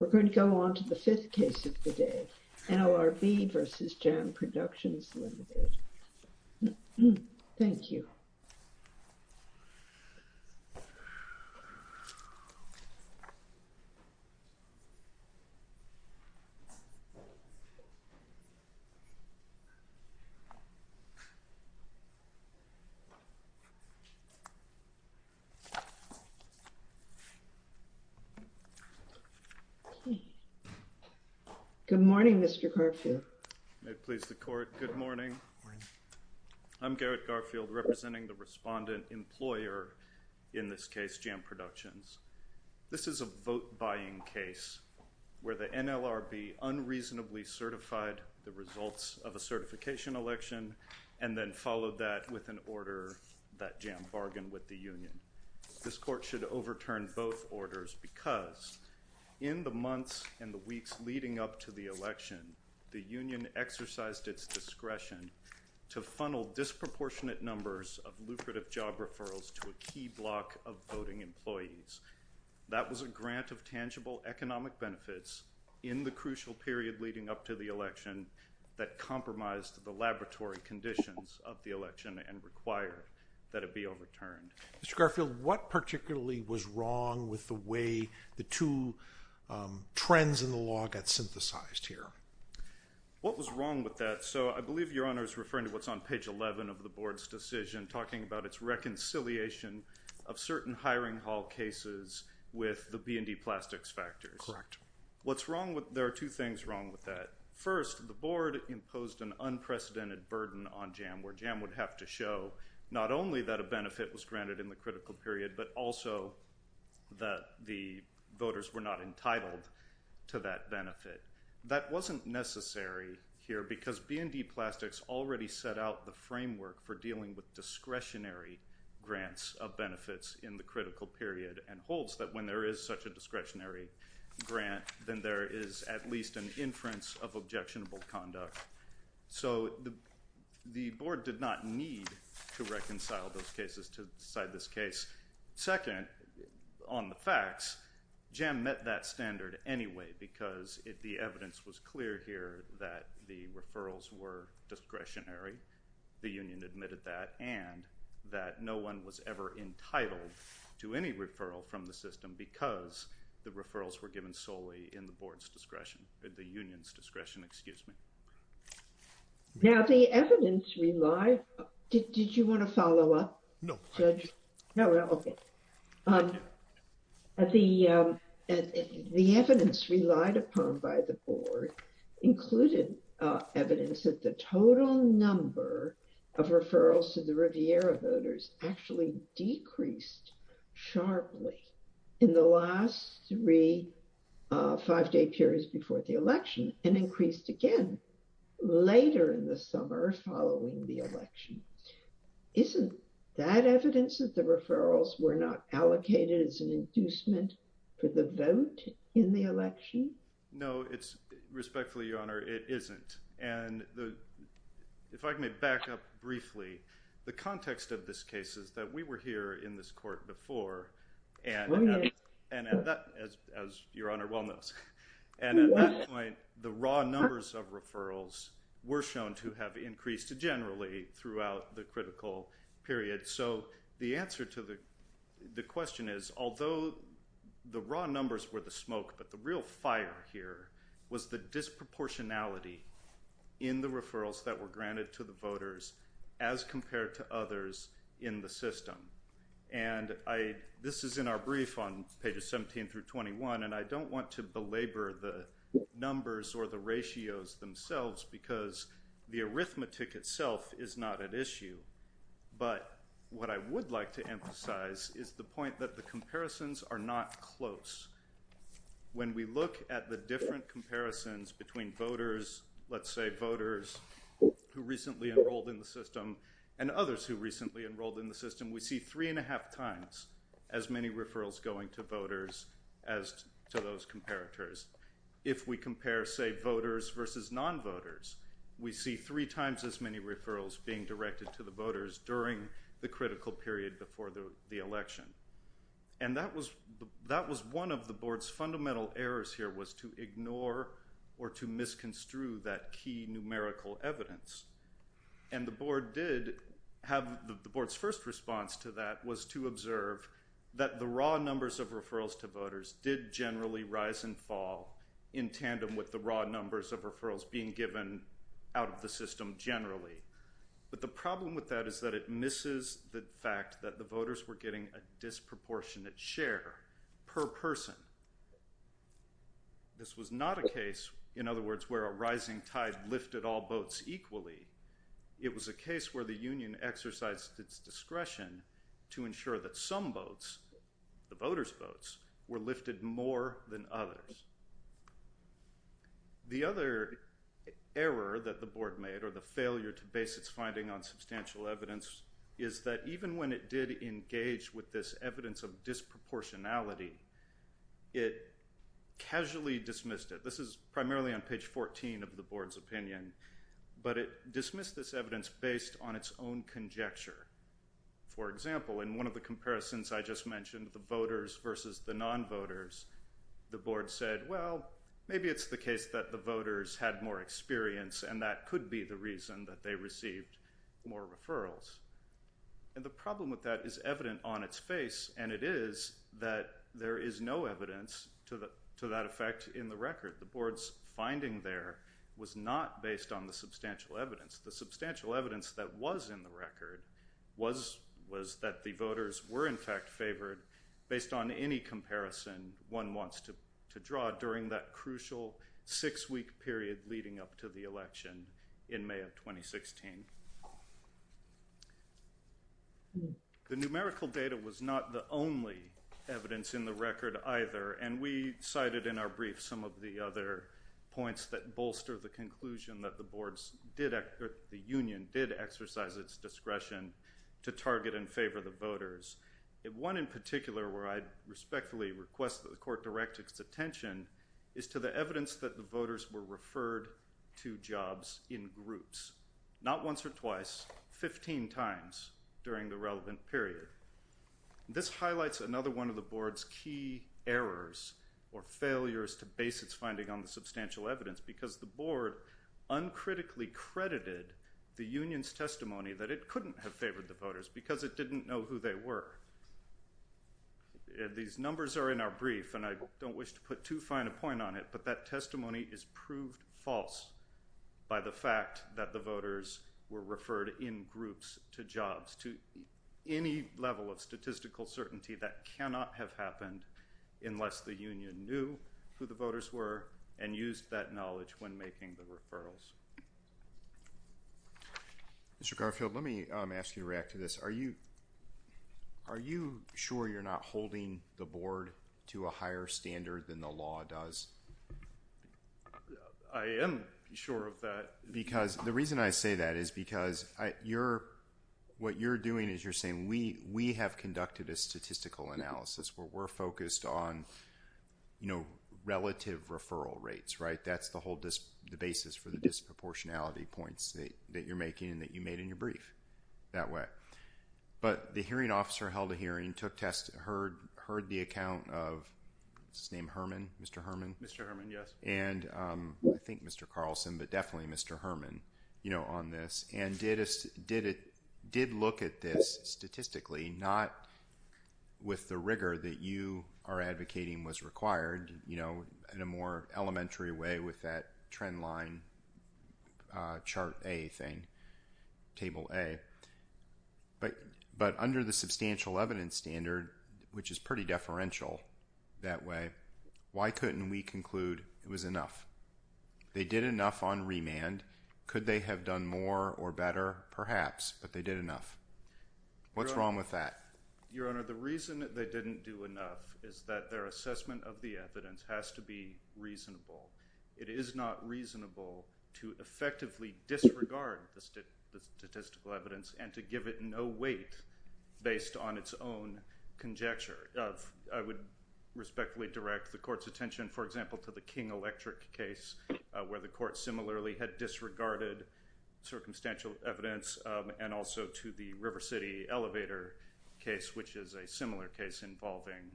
We're going to go on to the fifth case of the day, NLRB v. Jam Productions, Limited. Thank you. Good morning, Mr. Garfield. May it please the Court, good morning. Good morning. I'm Garrett Garfield, representing the respondent employer in this case, Jam Productions. This is a vote-buying case where the NLRB unreasonably certified the results of a certification election and then followed that with an order that Jam bargained with the union. This Court should overturn both orders because in the months and the weeks leading up to the election, the union exercised its discretion to funnel disproportionate numbers of lucrative job referrals to a key block of voting employees. That was a grant of tangible economic benefits in the crucial period leading up to the election that compromised the laboratory conditions of the election and required that it be overturned. Mr. Garfield, what particularly was wrong with the way the two trends in the law got synthesized here? What was wrong with that? So I believe Your Honor is referring to what's on page 11 of the Board's decision talking about its reconciliation of certain hiring hall cases with the B&D plastics factors. Correct. There are two things wrong with that. First, the Board imposed an unprecedented burden on Jam where Jam would have to show not only that a benefit was granted in the critical period but also that the voters were not entitled to that benefit. That wasn't necessary here because B&D plastics already set out the framework for dealing with discretionary grants of benefits in the critical period and holds that when there is such a discretionary grant, then there is at least an inference of objectionable conduct. So the Board did not need to reconcile those cases to decide this case. Second, on the facts, Jam met that standard anyway because the evidence was clear here that the referrals were discretionary. The union admitted that and that no one was ever entitled to any referral from the system because the referrals were given solely in the Board's discretion, the union's discretion, excuse me. Now the evidence relied... Did you want to follow up? No. The evidence relied upon by the Board included evidence that the total number of referrals to the Riviera voters actually decreased sharply in the last three five-day periods before the election and increased again later in the summer following the election. Isn't that evidence that the referrals were not allocated as an inducement for the vote in the election? No, respectfully, Your Honor, it isn't. If I may back up briefly, the context of this case is that we were here in this court before and as Your Honor well knows, and at that point, the raw numbers of referrals were shown to have increased generally throughout the critical period. So the answer to the question is although the raw numbers were the smoke, but the real fire here was the disproportionality in the referrals that were granted to the voters as compared to others in the system. And this is in our brief on pages 17 through 21, and I don't want to belabor the numbers or the ratios themselves because the arithmetic itself is not at issue. But what I would like to emphasize is the point that the comparisons are not close. When we look at the different comparisons between voters, let's say voters who recently enrolled in the system and others who recently enrolled in the system, we see three and a half times as many referrals going to voters as to those comparators. If we compare, say, voters versus non-voters, we see three times as many referrals being directed to the voters during the critical period before the election. And that was one of the board's fundamental errors here was to ignore or to misconstrue that key numerical evidence. And the board did have the board's first response to that was to observe that the raw numbers of referrals to voters did generally rise and fall in tandem with the raw numbers of referrals being given out of the system generally. But the problem with that is that it misses the fact that the voters were getting a disproportionate share per person. This was not a case, in other words, where a rising tide lifted all boats equally. It was a case where the union exercised its discretion to ensure that some boats, the voters' boats, were lifted more than others. The other error that the board made or the failure to base its finding on substantial evidence is that even when it did engage with this evidence of disproportionality, it casually dismissed it. This is primarily on page 14 of the board's opinion, but it dismissed this evidence based on its own conjecture. For example, in one of the comparisons I just mentioned, the voters versus the non-voters, the board said, well, maybe it's the case that the voters had more experience and that could be the reason that they received more referrals. And the problem with that is evident on its face, and it is that there is no evidence to that effect in the record. The board's finding there was not based on the substantial evidence. The substantial evidence that was in the record was that the voters were in fact favored based on any comparison one wants to draw during that crucial six-week period leading up to the election in May of 2016. The numerical data was not the only evidence in the record either, and we cited in our brief some of the other points that bolster the conclusion that the union did exercise its discretion to target and favor the voters. One in particular where I respectfully request that the court direct its attention is to the evidence that the voters were referred to jobs in groups, not once or twice, 15 times during the relevant period. This highlights another one of the board's key errors or failures to base its finding on the substantial evidence because the board uncritically credited the union's testimony that it couldn't have favored the voters because it didn't know who they were. These numbers are in our brief, and I don't wish to put too fine a point on it, but that testimony is proved false by the fact that the voters were referred in groups to jobs. To any level of statistical certainty, that cannot have happened unless the union knew who the voters were and used that knowledge when making the referrals. Mr. Garfield, let me ask you to react to this. Are you sure you're not holding the board to a higher standard than the law does? I am sure of that. The reason I say that is because what you're doing is you're saying we have conducted a statistical analysis where we're focused on relative referral rates. That's the whole basis for the disproportionality points that you're making and that you made in your brief that way. But the hearing officer held a hearing, took tests, heard the account of Mr. Herman, and I think Mr. Carlson, but definitely Mr. Herman on this, and did look at this statistically, not with the rigor that you are advocating was required in a more elementary way with that trend line, chart A thing, table A. But under the substantial evidence standard, which is pretty deferential that way, why couldn't we conclude it was enough? They did enough on remand. Could they have done more or better? Perhaps, but they did enough. What's wrong with that? Your Honor, the reason that they didn't do enough is that their assessment of the evidence has to be reasonable. It is not reasonable to effectively disregard the statistical evidence and to give it no weight based on its own conjecture. I would respectfully direct the court's attention, for example, to the King Electric case where the court similarly had disregarded circumstantial evidence and also to the River City elevator case, which is a similar case involving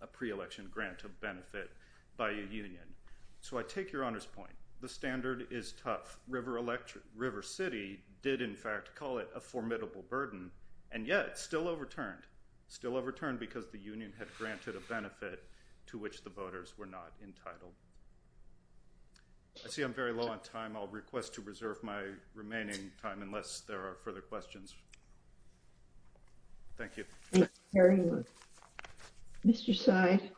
a pre-election grant of benefit by a union. So I take your Honor's point. The standard is tough. River City did, in fact, call it a formidable burden, and yet still overturned. Still overturned because the union had granted a benefit to which the voters were not entitled. I see I'm very low on time. I'll request to reserve my remaining time unless there are further questions. Thank you. Mr. Seid.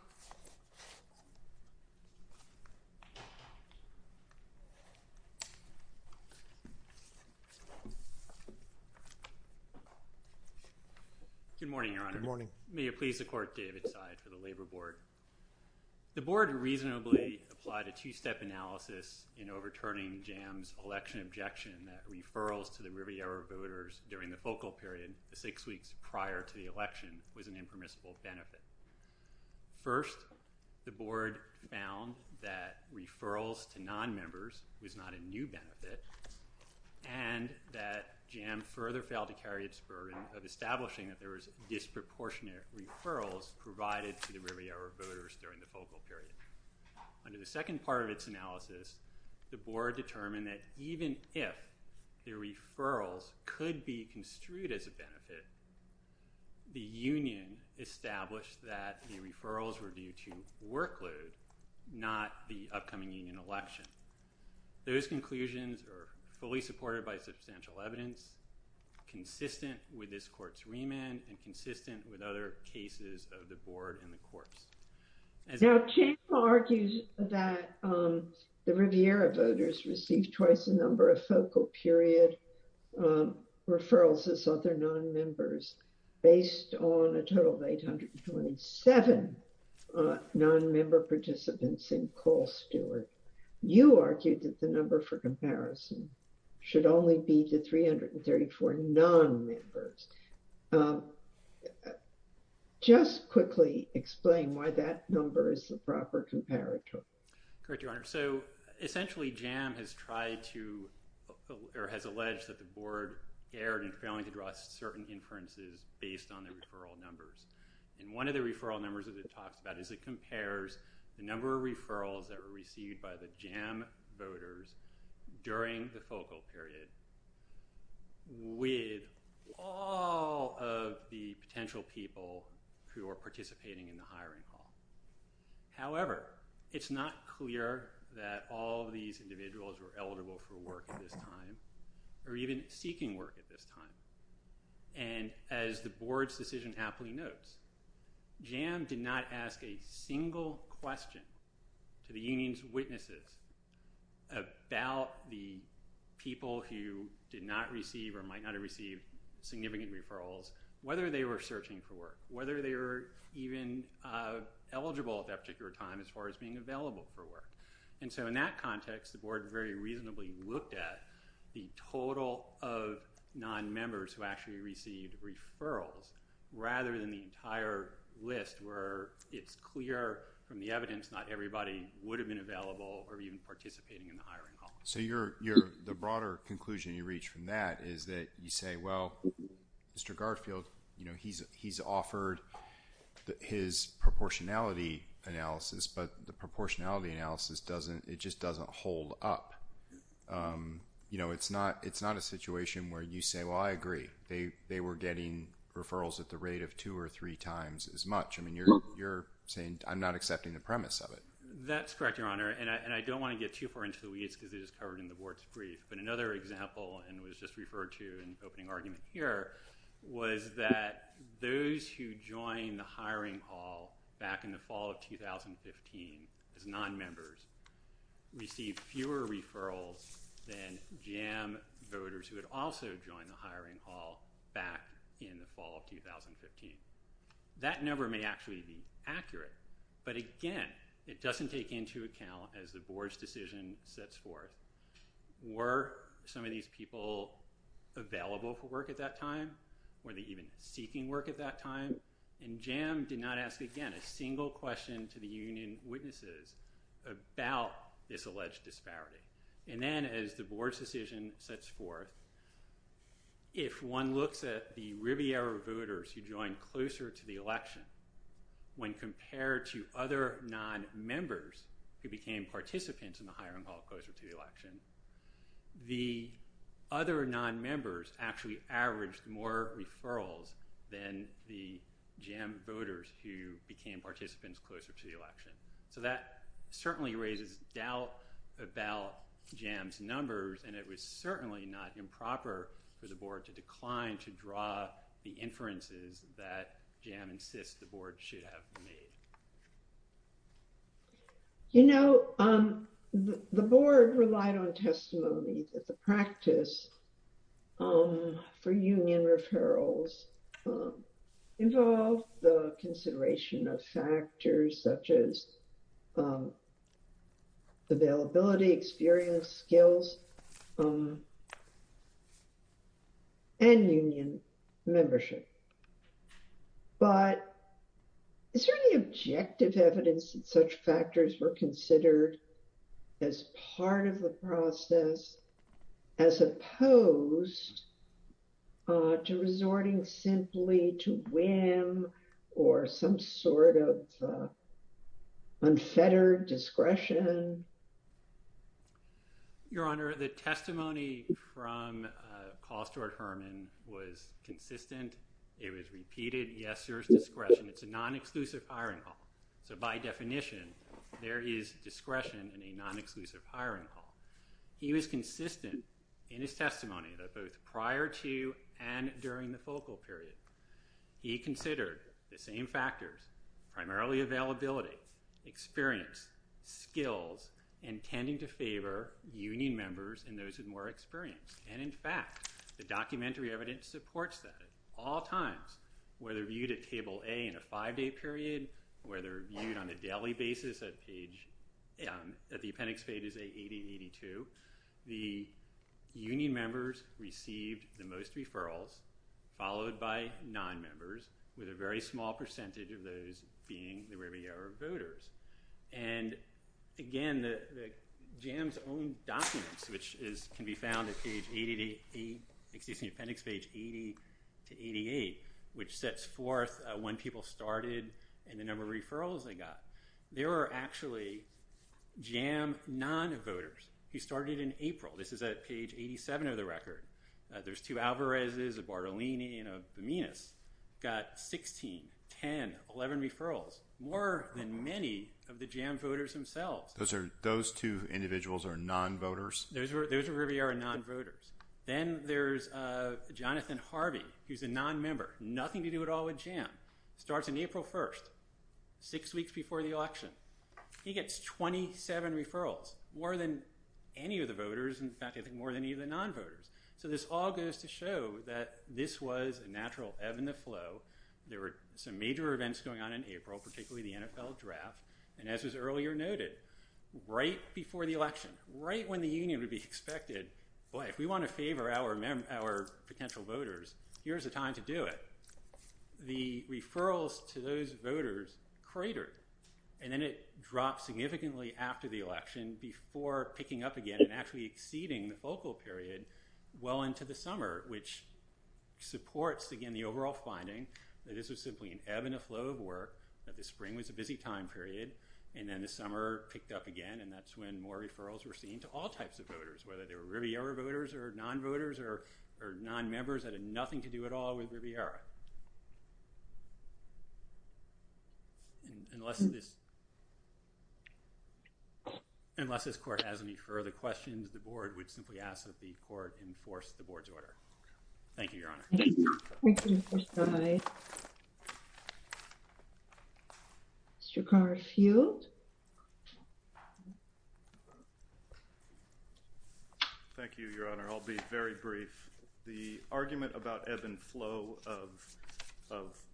Good morning, Your Honor. Good morning. May it please the court, David Seid for the Labor Board. The board reasonably applied a two-step analysis in overturning Jam's election objection that referrals to the Riviera voters during the focal period, the six weeks prior to the election, was an impermissible benefit. First, the board found that referrals to nonmembers was not a new benefit and that Jam further failed to carry its burden of establishing that there was disproportionate referrals provided to the Riviera voters during the focal period. Under the second part of its analysis, the board determined that even if the referrals could be construed as a benefit, the union established that the referrals were due to workload, not the upcoming union election. Those conclusions are fully supported by substantial evidence, consistent with this court's remand, and consistent with other cases of the board and the courts. Now, Jam argued that the Riviera voters received twice the number of focal period referrals as other nonmembers, based on a total of 827 nonmember participants in Cole-Stewart. You argued that the number for comparison should only be the 334 nonmembers. Just quickly explain why that number is the proper comparator. Correct, Your Honor. So, essentially, Jam has tried to, or has alleged that the board erred in failing to draw certain inferences based on the referral numbers. And one of the referral numbers that it talks about is it compares the number of referrals that were received by the Jam voters during the focal period with all of the potential people who are participating in the hiring hall. However, it's not clear that all of these individuals were eligible for work at this time, or even seeking work at this time. And as the board's decision happily notes, Jam did not ask a single question to the union's witnesses about the people who did not receive or might not have received significant referrals, whether they were searching for work, whether they were even eligible at that particular time as far as being available for work. And so, in that context, the board very reasonably looked at the total of nonmembers who actually received referrals, rather than the entire list where it's clear from the evidence not everybody would have been available or even participating in the hiring hall. So, the broader conclusion you reach from that is that you say, well, Mr. Garfield, he's offered his proportionality analysis, but the proportionality analysis, it just doesn't hold up. It's not a situation where you say, well, I agree. They were getting referrals at the rate of two or three times as much. I mean, you're saying I'm not accepting the premise of it. That's correct, Your Honor, and I don't want to get too far into the weeds because it is covered in the board's brief. But another example, and was just referred to in the opening argument here, was that those who joined the hiring hall back in the fall of 2015 as nonmembers received fewer referrals than Jam voters who had also joined the hiring hall back in the fall of 2015. That number may actually be accurate, but again, it doesn't take into account, as the board's decision sets forth, were some of these people available for work at that time? Were they even seeking work at that time? And Jam did not ask, again, a single question to the union witnesses about this alleged disparity. And then, as the board's decision sets forth, if one looks at the Riviera voters who joined closer to the election, when compared to other nonmembers who became participants in the hiring hall closer to the election, the other nonmembers actually averaged more referrals than the Jam voters who became participants closer to the election. So that certainly raises doubt about Jam's numbers, and it was certainly not improper for the board to decline to draw the inferences that Jam insists the board should have made. You know, the board relied on testimony that the practice for union referrals involved the consideration of factors such as availability, experience, skills, and union membership. But is there any objective evidence that such factors were considered as part of the process, as opposed to resorting simply to whim or some sort of unfettered discretion? Your Honor, the testimony from Call Store Herman was consistent. It was repeated. Yes, there's discretion. It's a non-exclusive hiring hall. So by definition, there is discretion in a non-exclusive hiring hall. He was consistent in his testimony that both prior to and during the focal period, he considered the same factors, primarily availability, experience, skills, intending to favor union members and those with more experience. And in fact, the documentary evidence supports that at all times, whether viewed at Table A in a five-day period, whether viewed on a daily basis at the appendix pages 80 and 82. The union members received the most referrals, followed by nonmembers, with a very small percentage of those being the Riviera voters. And again, JAM's own documents, which can be found at appendix page 80 to 88, which sets forth when people started and the number of referrals they got. There are actually JAM non-voters who started in April. This is at page 87 of the record. There's two Alvarez's, a Bartolini, and a Buminis got 16, 10, 11 referrals, more than many of the JAM voters themselves. Those two individuals are non-voters? Those are Riviera non-voters. Then there's Jonathan Harvey, who's a non-member. Nothing to do at all with JAM. Starts on April 1st, six weeks before the election. He gets 27 referrals, more than any of the voters, in fact, I think more than any of the non-voters. So this all goes to show that this was a natural ebb and the flow. There were some major events going on in April, particularly the NFL draft. And as was earlier noted, right before the election, right when the union would be expected, boy, if we want to favor our potential voters, here's a time to do it. The referrals to those voters cratered. And then it dropped significantly after the election before picking up again and actually exceeding the focal period well into the summer, which supports, again, the overall finding that this was simply an ebb and a flow of work, that the spring was a busy time period, and then the summer picked up again, and that's when more referrals were seen to all types of voters, whether they were Riviera voters or non-voters or non-members that had nothing to do at all with Riviera. Unless this, unless this court has any further questions, the board would simply ask that the court enforce the board's order. Thank you. Mr. Garfield. Thank you, Your Honor. I'll be very brief. The argument about ebb and flow of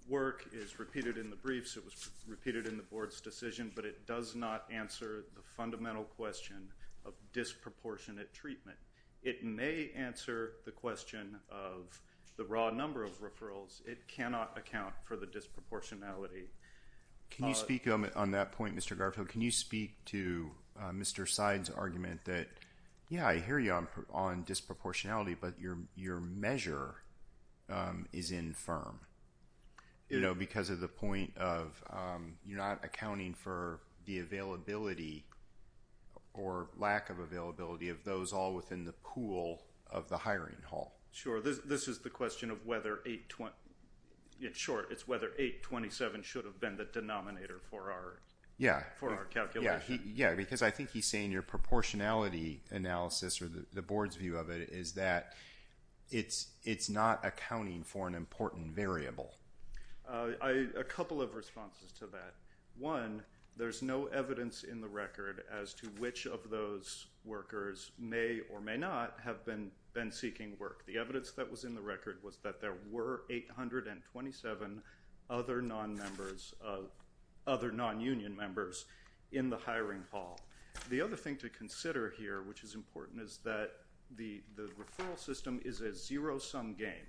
work is repeated in the briefs. It was repeated in the board's decision, but it does not answer the fundamental question of disproportionate treatment. It may answer the question of the raw number of referrals. It cannot account for the disproportionality. Can you speak on that point, Mr. Garfield? Can you speak to Mr. Seid's argument that, yeah, I hear you on disproportionality, but your measure is infirm, you know, within the pool of the hiring hall. Sure. This is the question of whether 827 should have been the denominator for our calculation. Yeah, because I think he's saying your proportionality analysis or the board's view of it is that it's not accounting for an important variable. A couple of responses to that. One, there's no evidence in the record as to which of those workers may or may not have been seeking work. The evidence that was in the record was that there were 827 other non-union members in the hiring hall. The other thing to consider here, which is important, is that the referral system is a zero-sum game.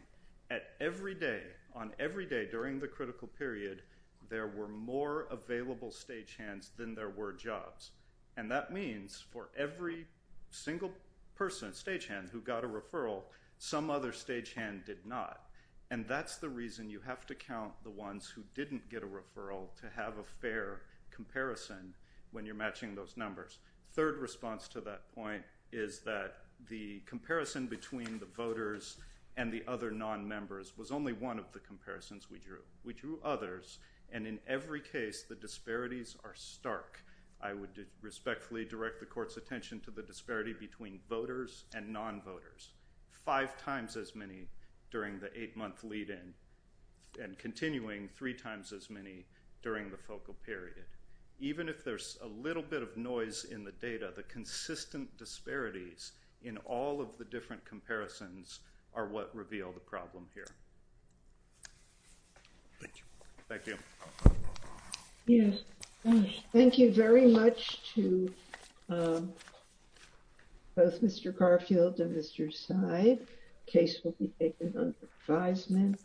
At every day, on every day during the critical period, there were more available stagehands than there were jobs. And that means for every single person, stagehand, who got a referral, some other stagehand did not. And that's the reason you have to count the ones who didn't get a referral to have a fair comparison when you're matching those numbers. Third response to that point is that the comparison between the voters and the other non-members was only one of the comparisons we drew. We drew others, and in every case, the disparities are stark. I would respectfully direct the court's attention to the disparity between voters and non-voters, five times as many during the eight-month lead-in and continuing three times as many during the focal period. Even if there's a little bit of noise in the data, the consistent disparities in all of the different comparisons are what reveal the problem here. Thank you. Thank you very much to both Mr. Garfield and Mr. Seib. The case will be taken under advisement.